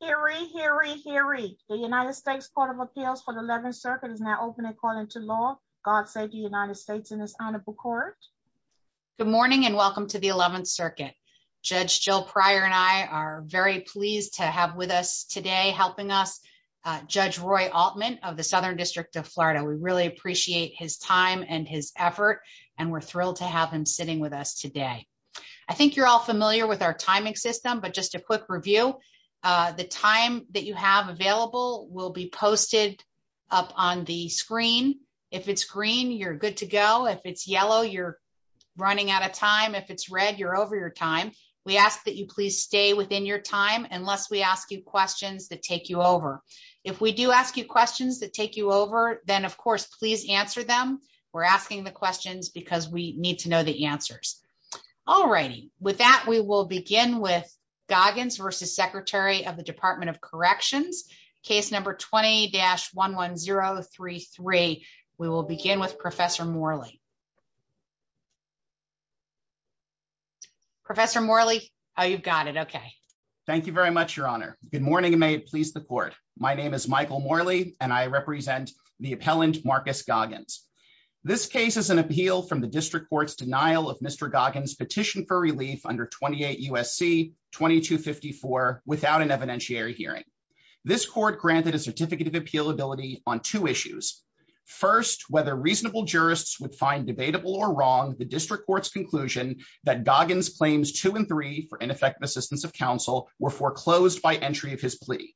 Hear, hear, hear, the United States Court of Appeals for the 11th Circuit is now open according to law. God save the United States in this honorable court. Good morning and welcome to the 11th Circuit. Judge Jill Pryor and I are very pleased to have with us today helping us. Judge Roy Altman of the Southern District of Florida, we really appreciate his time and his effort, and we're thrilled to have him with us today. We're going to start off with a little bit of an overview of the system, but just a quick review. The time that you have available will be posted up on the screen. If it's green, you're good to go. If it's yellow, you're running out of time. If it's red, you're over your time. We ask that you please stay within your time unless we ask you questions that take you over. If we do ask you questions that take you over, then of course please answer them. We're asking the questions because we need to know the answers. Alrighty, with that we will begin with Goggins v. Secretary of the Department of Corrections, case number 20-11033. We will begin with Professor Morley. Professor Morley, you've got it, okay. Thank you very much, Your Honor. Good morning and may it please the Court. My name is Michael Morley and I represent the appellant Marcus Goggins. This case is an appeal from the District Court's denial of Mr. Goggins' petition for relief under 28 U.S.C. 2254 without an evidentiary hearing. This court granted a certificate of appealability on two issues. First, whether reasonable jurists would find debatable or wrong, the District Court's conclusion that Goggins' claims 2 and 3 for ineffective assistance of counsel were foreclosed by entry of his plea.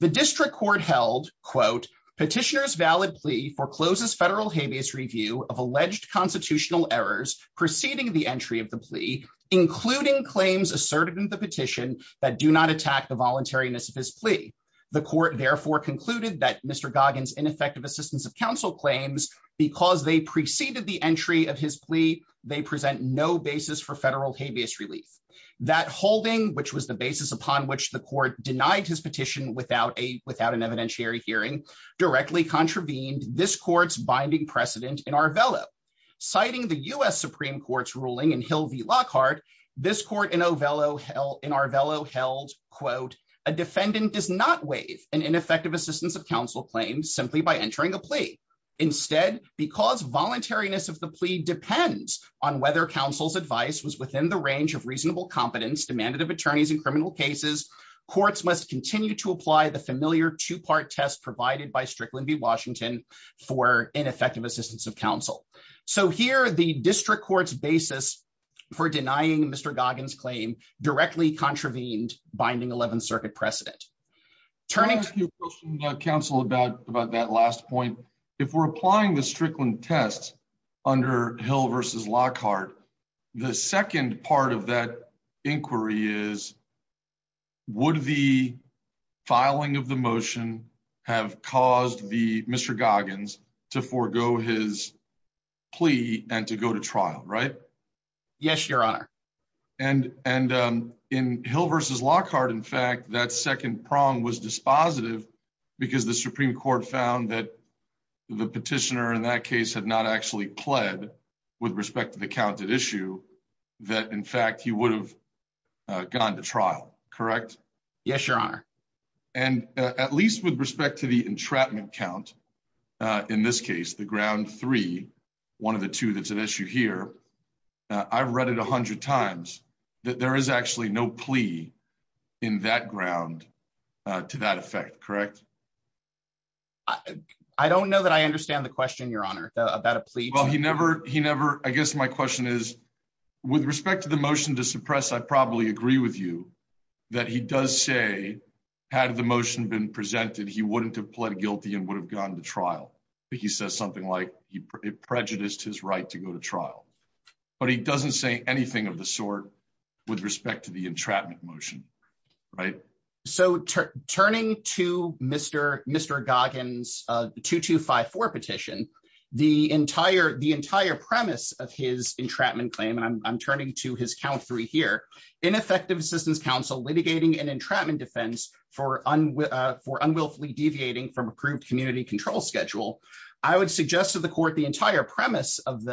The District Court held, quote, petitioner's valid plea forecloses federal habeas review of alleged constitutional errors preceding the entry of the plea, including claims asserted in the petition that do not attack the voluntariness of his plea. The court therefore concluded that Mr. Goggins' ineffective assistance of counsel claims, because they preceded the entry of his plea, they present no basis for federal habeas relief. That holding, which was the basis upon which the court denied his petition without an evidentiary hearing, directly contravened this court's binding precedent in Arvelo. Citing the U.S. Supreme Court's ruling in Hill v. Lockhart, this court in Arvelo held, quote, a defendant does not waive an ineffective assistance of counsel claim simply by entering a plea. Instead, because voluntariness of the plea depends on whether counsel's advice was within the range of reasonable competence demanded of attorneys in criminal cases, courts must continue to apply the familiar two-part test provided by Strickland v. Washington for ineffective assistance of counsel. So here, the District Court's basis for denying Mr. Goggins' claim directly contravened binding 11th Circuit precedent. Turning to your question, Counsel, about that last point, if we're applying the Strickland test under Hill v. Lockhart, the second part of that inquiry is, would the filing of the motion have caused Mr. Goggins to forego his plea and to go to trial, right? Yes, Your Honor. And in Hill v. Lockhart, in fact, that second prong was dispositive because the Supreme Court found that the petitioner in that case had not actually pled with respect to the counted issue, that, in fact, he would have gone to trial, correct? Yes, Your Honor. And at least with respect to the entrapment count, in this case, the ground three, one of the two that's at issue here, I've read it 100 times that there is actually no plea in that ground to that effect, correct? I don't know that I understand the question, Your Honor, about a plea. Well, I guess my question is, with respect to the motion to suppress, I probably agree with you that he does say, had the motion been presented, he wouldn't have pled guilty and would have gone to trial. He says something like he prejudiced his right to go to trial. But he doesn't say anything of the sort with respect to the entrapment motion, right? So turning to Mr. Goggins 2254 petition, the entire premise of his entrapment claim, and I'm turning to his count three here, ineffective assistance counsel litigating an entrapment defense for unwillfully deviating from approved community control schedule, I would suggest to the court the entire premise of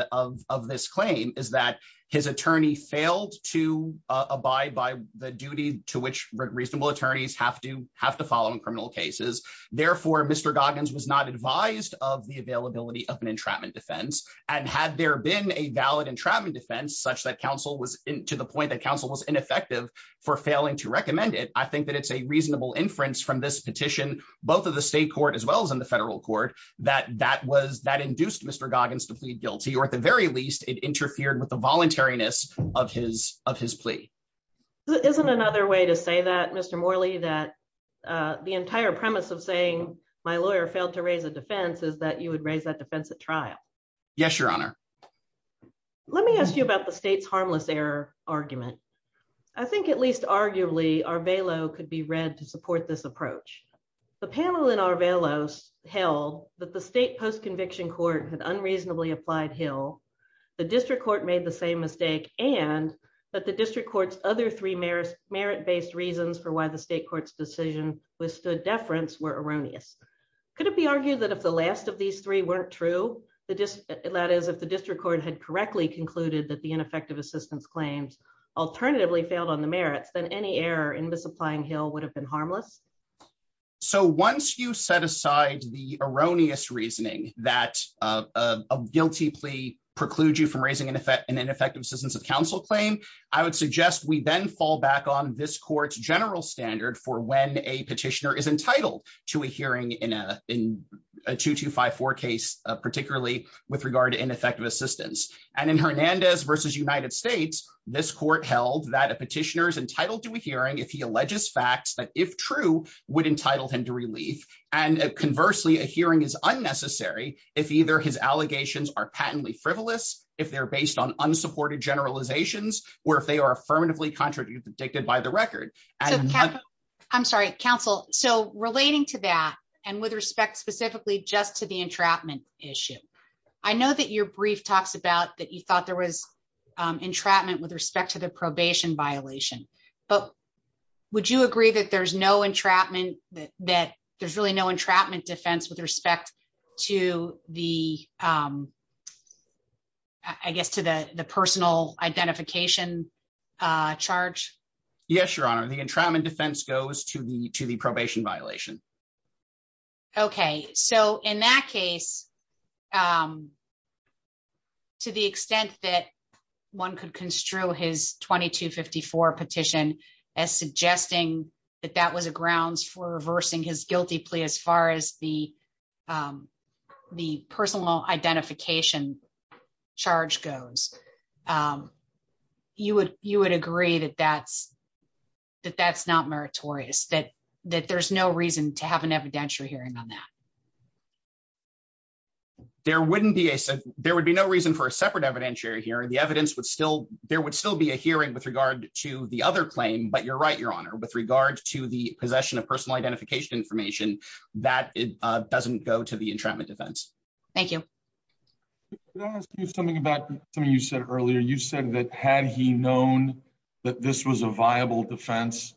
this claim is that his attorney failed to abide by the duty to which reasonable attorneys have to follow in criminal cases. Therefore, Mr. Goggins was not advised of the availability of an entrapment defense, and had there been a valid entrapment defense such that counsel was, to the point that counsel was ineffective for failing to recommend it, I think that it's a reasonable inference from this petition, both of the state court as well as in the federal court that that was that induced Mr. Goggins to plead guilty or at the very least it interfered with the voluntariness of his of his plea. Isn't another way to say that Mr. Morley that the entire premise of saying my lawyer failed to raise a defense is that you would raise that defense at trial. Yes, Your Honor. Let me ask you about the state's harmless error argument. I think at least arguably our bailout could be read to support this approach. The panel in our bailouts held that the state post conviction court had unreasonably applied hill. The district court made the same mistake, and that the district courts, other three merits merit based reasons for why the state courts decision with stood deference were erroneous. Could it be argued that if the last of these three weren't true, the just let us if the district court had correctly concluded that the ineffective assistance claims, alternatively failed on the merits than any error in the supplying hill would have been harmless. So once you set aside the erroneous reasoning that a guilty plea preclude you from raising an effect and ineffective systems of counsel claim, I would suggest we then fall back on this court's general standard for when a petitioner is entitled to a hearing in a in a 2254 case, particularly with regard to ineffective assistance, and in Hernandez versus United States, this court held that a petitioners entitled to a hearing if he alleges facts that if true would entitle him to relief, and conversely a hearing is unnecessary. If either his allegations are patently frivolous, if they're based on unsupported generalizations, or if they are affirmatively contradicted by the record. I'm sorry, counsel. So, relating to that, and with respect specifically just to the entrapment issue. I know that your brief talks about that you thought there was entrapment with respect to the probation violation, but would you agree that there's no entrapment that that there's really no entrapment defense with respect to the. I guess to the personal identification charge. Yes, Your Honor, the entrapment defense goes to the to the probation violation. Okay, so in that case, to the extent that one could construe his 2254 petition as suggesting that that was a grounds for reversing his guilty plea as far as the, the personal identification charge goes, you would you would agree that that's that that's not meritorious that that there's no reason to have an evidentiary hearing on that. There wouldn't be a said, there would be no reason for a separate evidentiary hearing the evidence would still, there would still be a hearing with regard to the other claim but you're right Your Honor with regard to the possession of personal identification information that doesn't go to the entrapment defense. Thank you. Something about something you said earlier you said that had he known that this was a viable defense,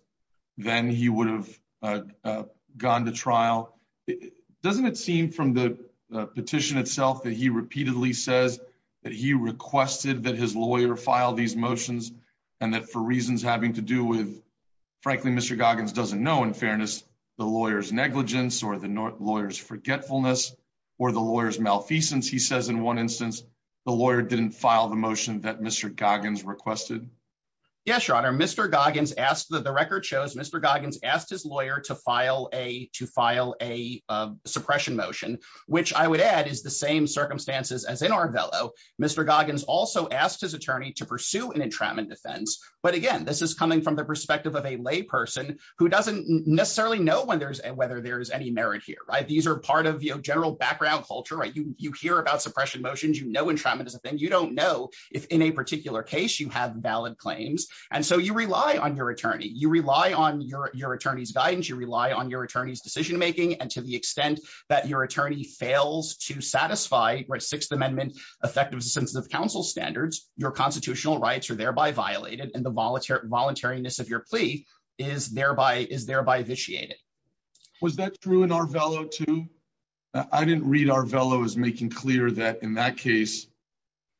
then he would have gone to trial. Doesn't it seem from the petition itself that he repeatedly says that he requested that his lawyer file these motions, and that for reasons having to do with. Frankly, Mr Goggins doesn't know in fairness, the lawyers negligence or the lawyers forgetfulness, or the lawyers malfeasance he says in one instance, the lawyer didn't file the motion that Mr Goggins requested. Yes, Your Honor Mr Goggins asked that the record shows Mr Goggins asked his lawyer to file a to file a suppression motion, which I would add is the same circumstances as in our bellow. Mr Goggins also asked his attorney to pursue an entrapment defense, but again this is coming from the perspective of a lay person who doesn't necessarily know when there's a whether there's any merit here right these are part of your general background culture right you you hear about suppression motions you know entrapment is a thing you don't know if in a particular case you have valid claims. And so you rely on your attorney you rely on your, your attorney's guidance you rely on your attorney's decision making and to the extent that your attorney fails to satisfy right Sixth Amendment effective sensitive counsel standards, your constitutional rights are thereby violated and the volunteer voluntariness of your plea is thereby is thereby vitiated. Was that true in our fellow to. I didn't read our fellow is making clear that in that case.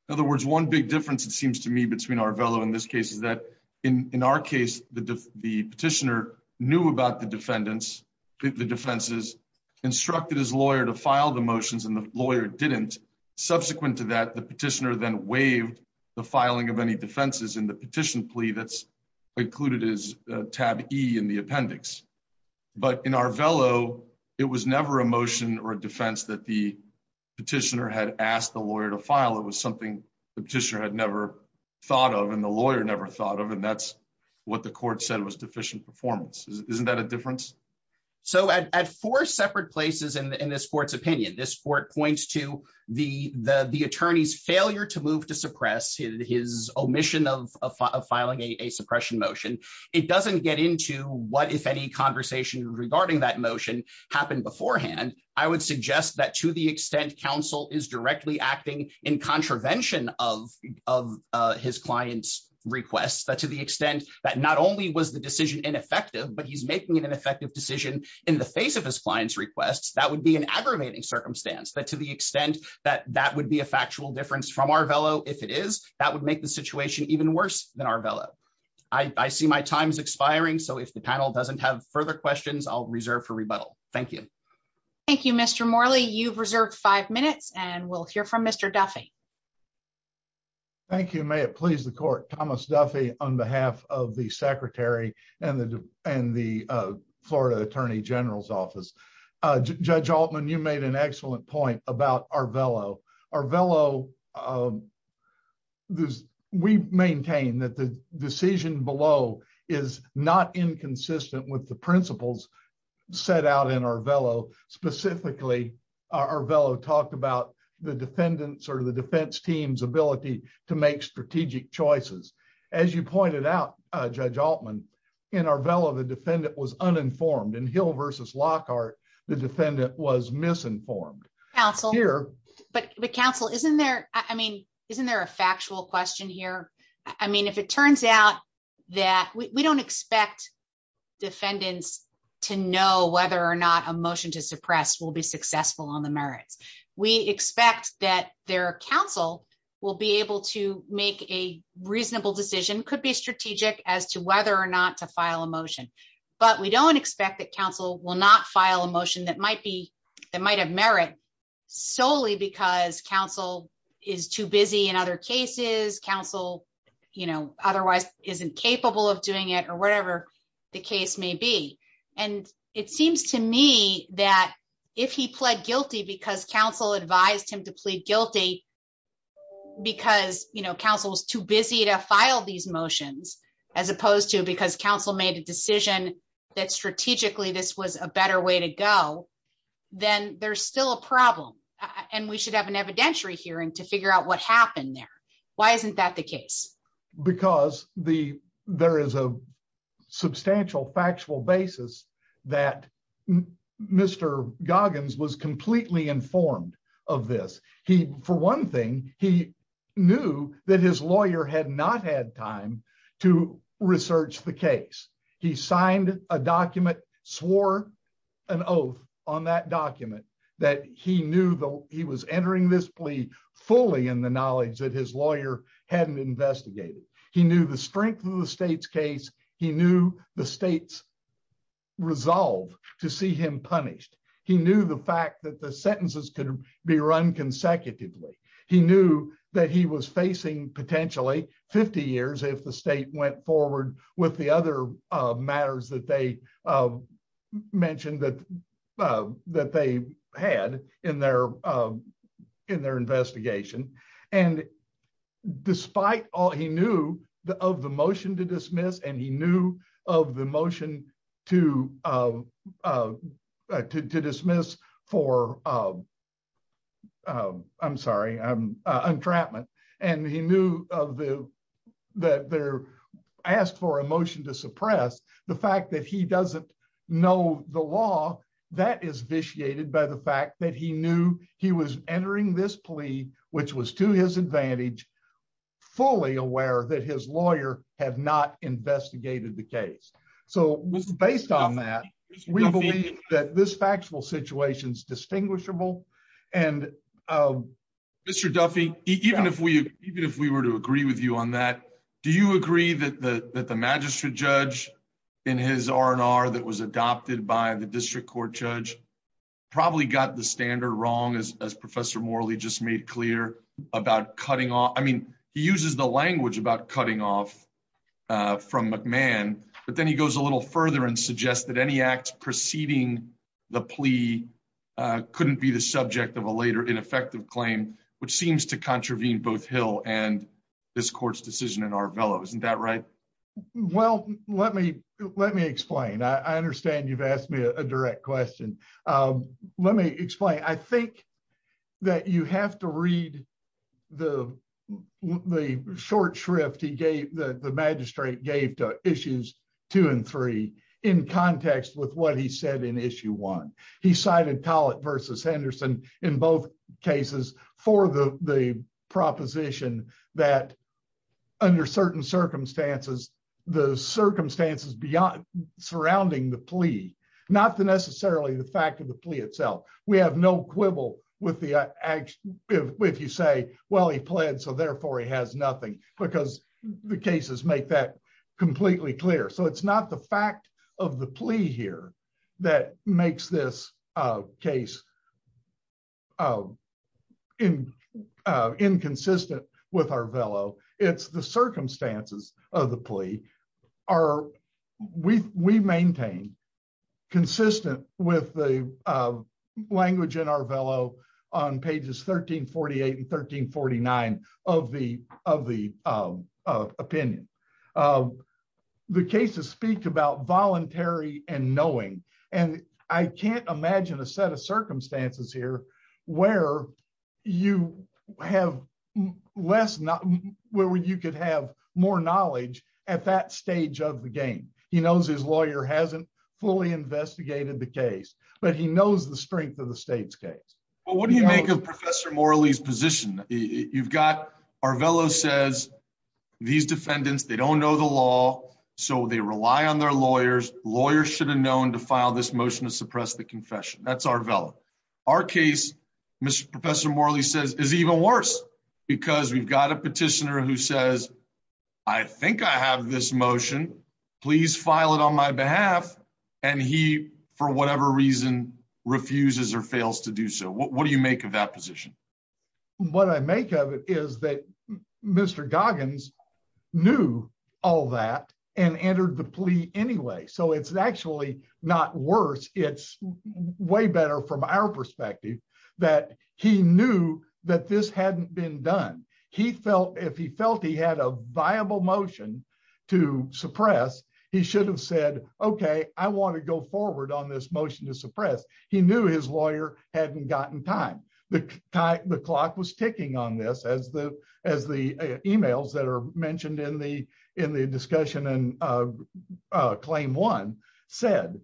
In other words, one big difference it seems to me between our fellow in this case is that, in our case, the, the petitioner knew about the defendants, the defenses instructed his lawyer to file the motions and the lawyer didn't subsequent to that the petitioner then waived the filing of any defenses in the petition plea that's included is tab E in the appendix. But in our fellow. It was never emotion or defense that the petitioner had asked the lawyer to file it was something the petitioner had never thought of and the lawyer never thought of and that's what the court said was deficient performance, isn't that a difference. So at four separate places in this court's opinion this court points to the, the, the attorney's failure to move to suppress his omission of filing a suppression motion, it doesn't get into what if any conversation regarding that motion happened beforehand, I would suggest that to the extent counsel is directly acting in contravention of of his clients requests that to the extent that not only was the decision ineffective but he's making an effective decision in the face of his clients requests that would be an aggravating circumstance that to the extent that that would be a factual difference from our fellow, if it is, that would make the situation even worse than our Bella. I see my time is expiring so if the panel doesn't have further questions I'll reserve for rebuttal. Thank you. Thank you Mr Morley you've reserved five minutes and we'll hear from Mr Duffy. Thank you. May it please the court, Thomas Duffy, on behalf of the secretary and the, and the Florida Attorney General's Office. Judge Altman you made an excellent point about our bellow our bellow. This, we maintain that the decision below is not inconsistent with the principles set out in our bellow specifically our bellow talked about the defendants or the defense team's ability to make strategic choices. As you pointed out, Judge Altman in our bellow the defendant was uninformed and hill versus Lockhart, the defendant was misinformed. Council here, but the council isn't there. I mean, isn't there a factual question here. I mean if it turns out that we don't expect defendants to know whether or not emotion to suppress will be successful on the merits. We expect that their counsel will be able to make a reasonable decision could be strategic as to whether or not to file a motion, but we don't expect that counsel will not file a motion that might be that might have merit solely because counsel is too busy in other cases counsel, you know, otherwise isn't capable of doing it or whatever the case may be. And it seems to me that if he pled guilty because counsel advised him to plead guilty. Because, you know, counsel's too busy to file these motions, as opposed to because counsel made a decision that strategically this was a better way to go. Then there's still a problem. And we should have an evidentiary hearing to figure out what happened there. Why isn't that the case, because the there is a substantial factual basis that Mr. Goggins was completely informed of this. He, for one thing, he knew that his lawyer had not had time to research the case, he signed a document swore an oath on that document that he knew that he was entering this plea fully in the knowledge that his lawyer hadn't investigated. He knew the strength of the state's case, he knew the state's resolve to see him punished. He knew the fact that the sentences could be run consecutively. He knew that he was facing potentially 50 years if the state went forward with the other matters that they mentioned that that they had in their, in their investigation. And despite all he knew the of the motion to dismiss and he knew of the motion to to dismiss for I'm sorry, I'm entrapment and he knew of the that they're asked for a motion to suppress the fact that he doesn't know the law that is vitiated by the fact that he knew he was entering this plea, which was to his advantage, fully aware that his lawyer had not investigated the case. So, based on that, we believe that this factual situations distinguishable and Mr. Duffy, even if we even if we were to agree with you on that. Do you agree that the magistrate judge in his R&R that was adopted by the district court judge probably got the standard wrong as Professor Morley just made clear about cutting off. I mean, he uses the language about cutting off from McMahon, but then he goes a little further and suggest that any acts preceding the plea couldn't be the subject of a later ineffective claim, which seems to contravene both Hill and this court's decision in our fellows and that right Well, let me let me explain I understand you've asked me a direct question. Let me explain. I think that you have to read the The short shrift he gave the magistrate gave two issues, two and three in context with what he said in issue one, he cited talent versus Henderson in both cases for the the proposition that Under certain circumstances, the circumstances beyond surrounding the plea, not the necessarily the fact of the plea itself. We have no quibble with the If you say, well, he pled so therefore he has nothing because the cases make that completely clear. So it's not the fact of the plea here that makes this case. In inconsistent with our fellow it's the circumstances of the plea are we we maintain consistent with the language in our fellow on pages 1348 and 1349 of the of the opinion. The cases speak about voluntary and knowing and I can't imagine a set of circumstances here where you have less not where you could have more knowledge at that stage of the game. He knows his lawyer hasn't fully investigated the case, but he knows the strength of the state's case. Well, what do you make of Professor Morley's position. You've got our fellow says these defendants. They don't know the law, so they rely on their lawyers lawyers should have known to file this motion to suppress the confession. That's our fellow Our case, Mr. Professor Morley says is even worse because we've got a petitioner who says, I think I have this motion, please file it on my behalf and he for whatever reason refuses or fails to do so. What do you make of that position. What I make of it is that Mr Goggins knew all that and entered the plea. Anyway, so it's actually not worse. It's way better from our perspective that he knew that this hadn't been done. He felt if he felt he had a viable motion to suppress. He should have said, Okay, I want to go forward on this motion to suppress he knew his lawyer hadn't gotten time the clock was ticking on this as the as the emails that are mentioned in the in the discussion and Claim one said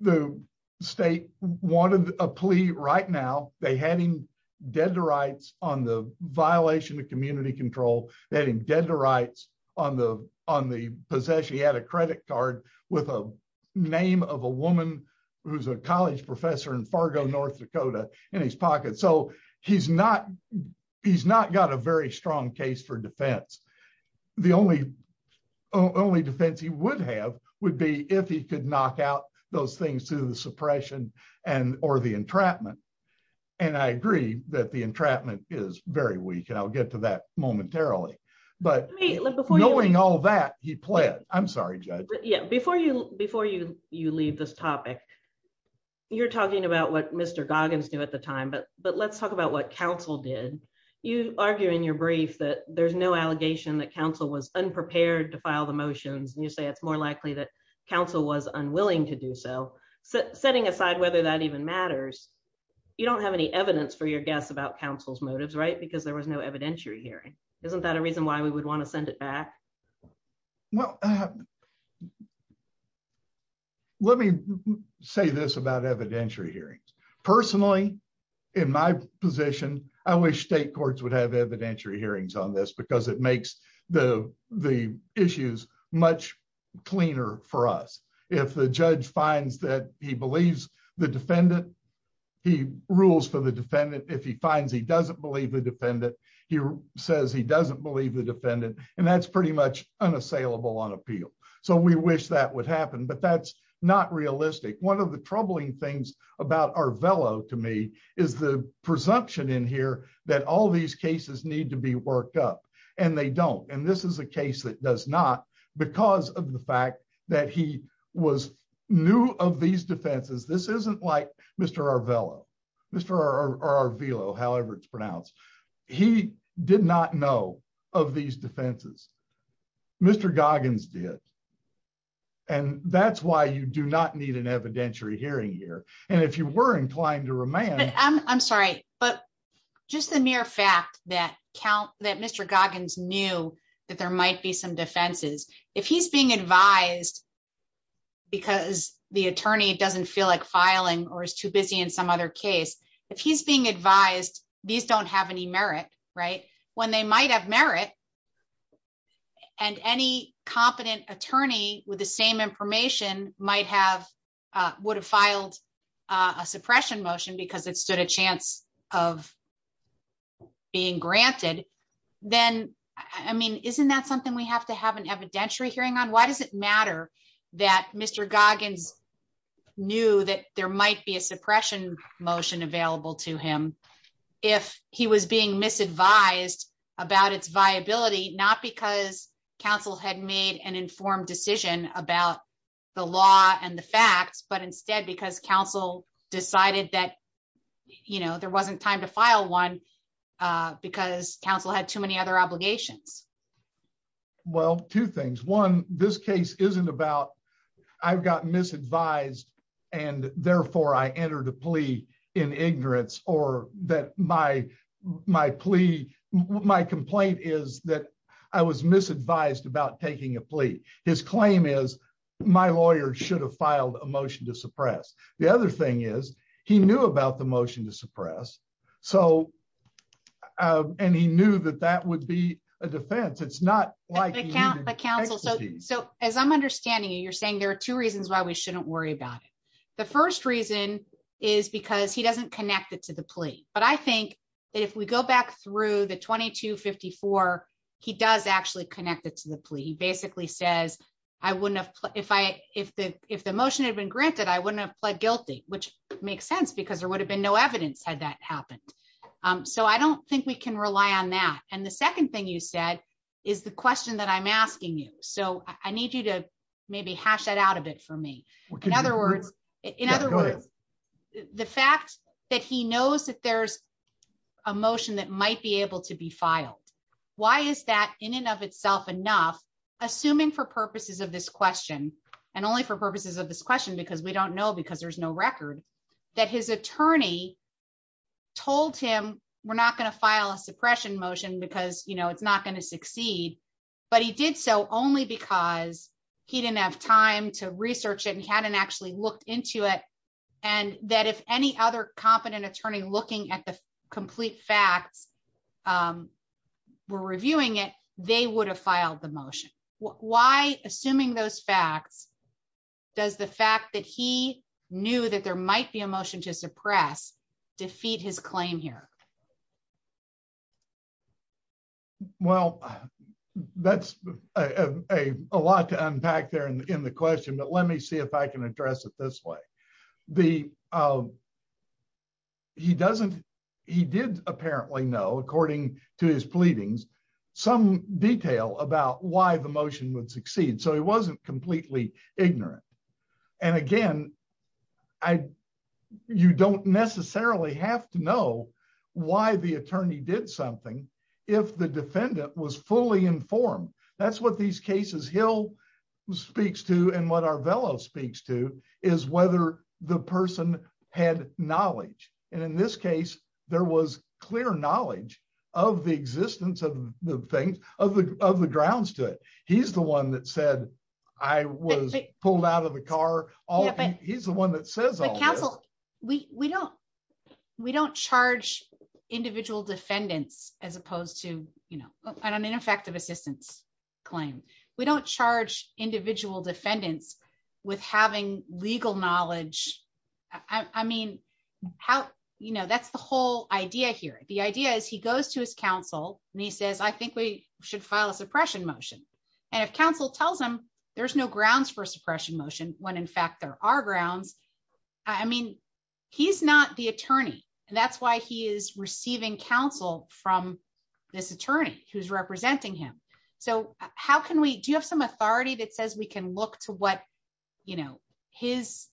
the state wanted a plea right now, they had him dead to rights on the violation of community control that he did the rights on the on the possession he had a credit card with a name of a woman who's a college professor in Fargo, North Dakota, and would be if he could knock out those things to the suppression and or the entrapment. And I agree that the entrapment is very weak and I'll get to that momentarily. But before knowing all that he played, I'm sorry. Yeah, before you before you, you leave this topic. You're talking about what Mr Goggins do at the time but but let's talk about what counsel did you argue in your brief that there's no allegation that counsel was unprepared to file the motions and you say it's more likely that counsel was unwilling to do so, setting aside whether that even matters. You don't have any evidence for your guests about councils motives right because there was no evidentiary hearing. Isn't that a reason why we would want to send it back. Well, let me say this about evidentiary hearings. Personally, in my position, I wish state courts would have evidentiary hearings on this because it makes the, the issues, much cleaner for us. If the judge finds that he believes the defendant. He rules for the defendant if he finds he doesn't believe the defendant. He says he doesn't believe the defendant, and that's pretty much unassailable on appeal. So we wish that would happen but that's not realistic. One of the troubling things about our velo to me is the presumption in here that all these cases need to be worked up, and they don't and this is a case that does not because of the fact that he was new of these defenses. This isn't like, Mr. Velo, Mr. Velo however it's pronounced. He did not know of these defenses. Mr Goggins did. And that's why you do not need an evidentiary hearing here. And if you were inclined to remain, I'm sorry, but just the mere fact that count that Mr Goggins knew that there might be some defenses. If he's being advised, because the attorney doesn't feel like filing or is too busy in some other case, if he's being advised, these don't have any merit, right, when they might have merit, and any competent attorney with the same information might have would filed a suppression motion because it stood a chance of being granted. Then, I mean, isn't that something we have to have an evidentiary hearing on why does it matter that Mr Goggins knew that there might be a suppression motion available to him. If he was being misadvised about its viability, not because Council had made an informed decision about the law and the facts but instead because Council decided that, you know, there wasn't time to file one because Council had too many other obligations. Well, two things. One, this case isn't about I've gotten misadvised and therefore I entered a plea in ignorance or that my plea, my complaint is that I was misadvised about taking a plea. His claim is my lawyer should have filed a motion to suppress. The other thing is, he knew about the motion to suppress. So, and he knew that that would be a defense. It's not like a counsel. So, as I'm understanding you're saying there are two reasons why we shouldn't worry about it. The first reason is because he doesn't connect it to the plea, but I think that if we go back through the 2254, he does actually connect it to the plea. He basically says, I wouldn't have, if I, if the, if the motion had been granted I wouldn't have pled guilty, which makes sense because there would have been no evidence had that happened. So I don't think we can rely on that. And the second thing you said is the question that I'm asking you, so I need you to maybe hash it out a bit for me. In other words, in other words, the fact that he knows that there's a motion that might be able to be filed. Why is that in and of itself enough, assuming for purposes of this question, and only for purposes of this question because we don't know because there's no record that his attorney told him, we're not going to file a suppression motion because you know it's not going But he did so only because he didn't have time to research it and hadn't actually looked into it. And that if any other competent attorney looking at the complete facts. We're reviewing it, they would have filed the motion. Why, assuming those facts, does the fact that he knew that there might be a motion to suppress defeat his claim here. Well, that's a lot to unpack there and in the question, but let me see if I can address it this way. The He doesn't. He did apparently know according to his pleadings some detail about why the motion would succeed. So he wasn't completely ignorant. And again, I You don't necessarily have to know why the attorney did something if the defendant was fully informed. That's what these cases, he'll Speaks to and what our fellow speaks to is whether the person had knowledge. And in this case, there was clear knowledge of the existence of the things of the of the grounds to it. He's the one that said I was pulled out of the car. He's the one that says, Counsel, we don't we don't charge individual defendants, as opposed to, you know, an ineffective assistance claim. We don't charge individual defendants with having legal knowledge. I mean, how you know that's the whole idea here. The idea is he goes to his counsel and he says, I think we should file a suppression motion. And if counsel tells them there's no grounds for suppression motion when in fact there are grounds. I mean, he's not the attorney. And that's why he is receiving counsel from This attorney who's representing him. So how can we do you have some authority that says we can look to what you know his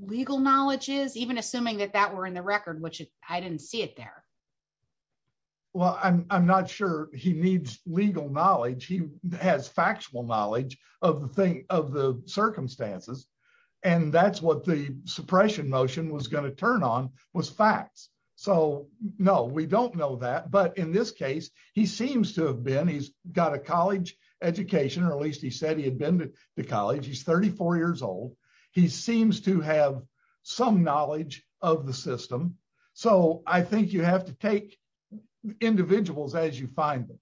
legal knowledge is even assuming that that were in the record, which I didn't see it there. Well, I'm not sure he needs legal knowledge. He has factual knowledge of the thing of the circumstances. And that's what the suppression motion was going to turn on was facts. So, no, we don't know that. But in this case, he seems to have been he's got a college Education, or at least he said he had been to college. He's 34 years old. He seems to have some knowledge of the system. So I think you have to take individuals as you find them.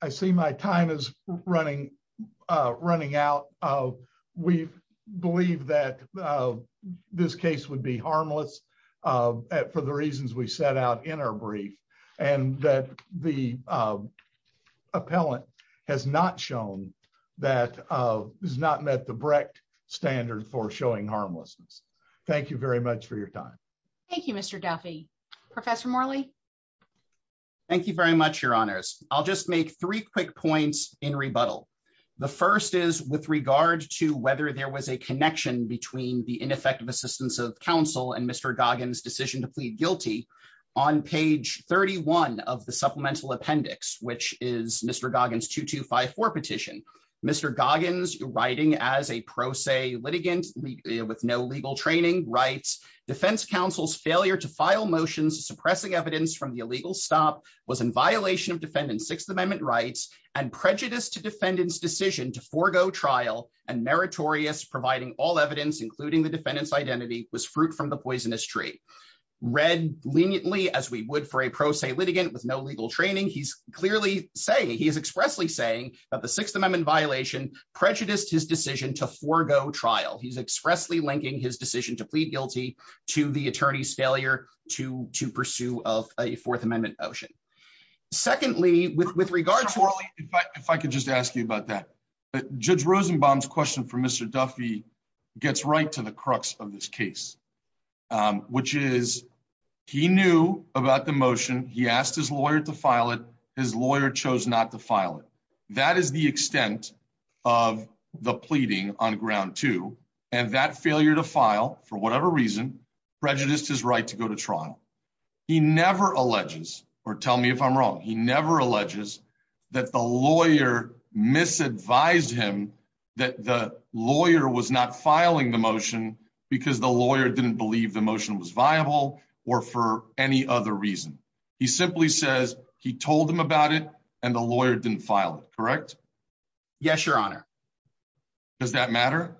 I see my time is running running out of we believe that this case would be harmless for the reasons we set out in our brief and that the Appellant has not shown that is not met the Brecht standard for showing harmless. Thank you very much for your time. Thank you, Mr. Duffy Professor Morley. Thank you very much, Your Honors. I'll just make three quick points in rebuttal. The first is with regard to whether there was a connection between the ineffective assistance of counsel and Mr Goggins decision to plead guilty on page 31 of the supplemental appendix, which is Mr. Goggins 2254 petition, Mr. Goggins writing as a pro se litigant with no legal training rights, defense counsel's failure to file motions suppressing evidence from the illegal stop was in violation of defendants Sixth Amendment rights and prejudice to defendants decision to forego trial and meritorious providing all evidence including the defendants identity was fruit from the poisonous tree read leniently as we would for a pro se litigant with no legal training he's clearly saying he's not going to pursue of a Fourth Amendment motion. Secondly, with with regards to if I could just ask you about that. Judge Rosenbaum's question for Mr. Duffy gets right to the crux of this case, which is, he knew about the motion, he asked his lawyer to file it, his lawyer chose not to file it. That is the extent of the pleading on ground to and that failure to file for whatever reason, prejudiced his right to go to trial. He never alleges or tell me if I'm wrong. He never alleges that the lawyer misadvised him that the lawyer was not filing the motion because the lawyer didn't believe the motion was viable, or for any other reason. He simply says he told him about it, and the lawyer didn't file it correct. Yes, Your Honor. Does that matter.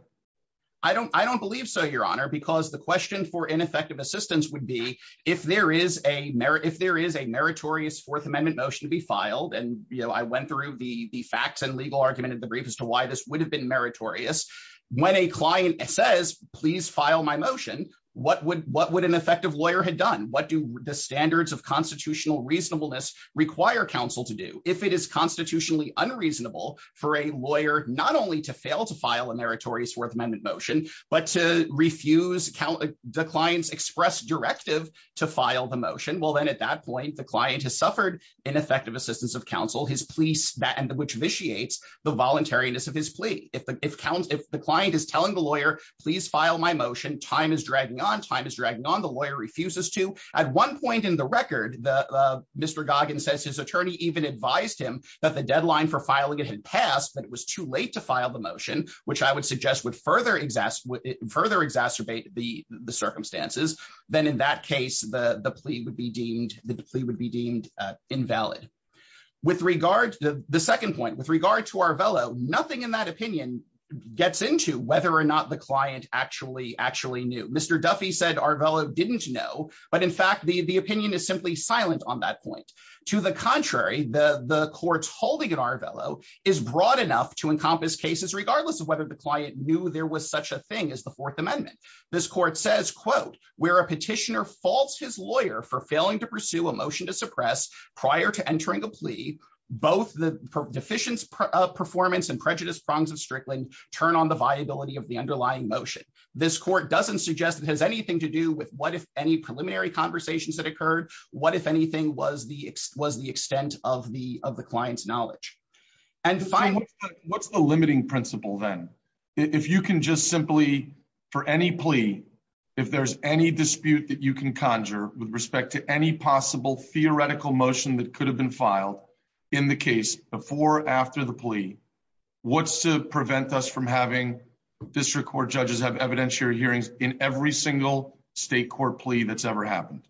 I don't I don't believe so Your Honor because the question for ineffective assistance would be, if there is a merit if there is a meritorious Fourth Amendment motion to be filed and you know I went through the the facts and legal argument at the brief as to why this would have been meritorious. When a client says, please file my motion, what would what would an effective lawyer had done what do the standards of constitutional reasonableness require counsel to do if it is constitutionally unreasonable for a lawyer, not only to fail to fail to file a meritorious Fourth Amendment motion, but to refuse count declines express directive to file the motion well then at that point the client has suffered an effective assistance of counsel his police that and the which vitiates the voluntariness of his plea, if the if counts if the client is telling the lawyer, please file my motion time is dragging on time is dragging on the lawyer refuses to add one point in the record, the Mr. Dog and says his attorney even advised him that the deadline for filing it had passed but it was too late to file the motion, which I would suggest would further exhaust would further exacerbate the circumstances, then in that case, the plea would be deemed the plea would be deemed invalid. With regard to the second point with regard to our fellow nothing in that opinion gets into whether or not the client actually actually knew Mr Duffy said our fellow didn't know, but in fact the the opinion is simply silent on that point. To the contrary, the the courts holding in our fellow is broad enough to encompass cases regardless of whether the client knew there was such a thing as the Fourth Amendment. This court says quote, where a petitioner false his lawyer for failing to pursue a motion to suppress prior to entering the plea, both the deficient performance and prejudice prongs of Strickland turn on the viability of the underlying motion. This court doesn't suggest it has anything to do with what if any preliminary conversations that occurred. What if anything was the was the extent of the of the clients knowledge and find what's the limiting principle then. If you can just simply for any plea. If there's any dispute that you can conjure with respect to any possible theoretical motion that could have been filed in the case before after the plea. What's to prevent us from having district court judges have evidentiary hearings in every single state court plea that's ever happened.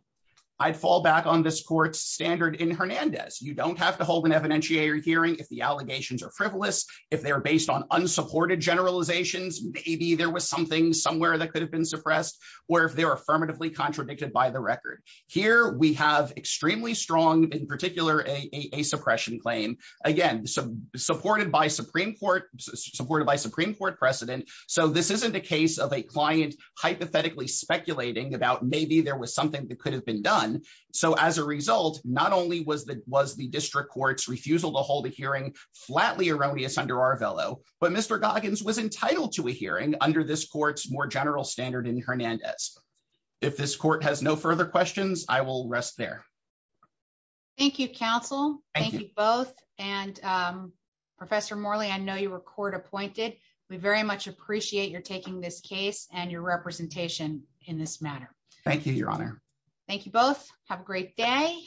I'd fall back on this court standard in Hernandez, you don't have to hold an evidentiary hearing if the allegations are frivolous. If they're based on unsupported generalizations, maybe there was something somewhere that could have been suppressed, or if they're affirmatively contradicted by the record here we have extremely strong in particular a suppression claim. Again, some supported by Supreme Court supported by Supreme Court precedent. So this isn't a case of a client hypothetically speculating about maybe there was something that could have been done. So as a result, not only was that was the district courts refusal to hold a hearing flatly erroneous under our fellow, but Mr Goggins was entitled to a hearing under this court's more general standard in Hernandez. If this court has no further questions, I will rest there. Thank you counsel. Thank you both, and Professor Morley I know you were court appointed, we very much appreciate your taking this case and your representation in this matter. Thank you, Your Honor. Thank you both. Have a great day.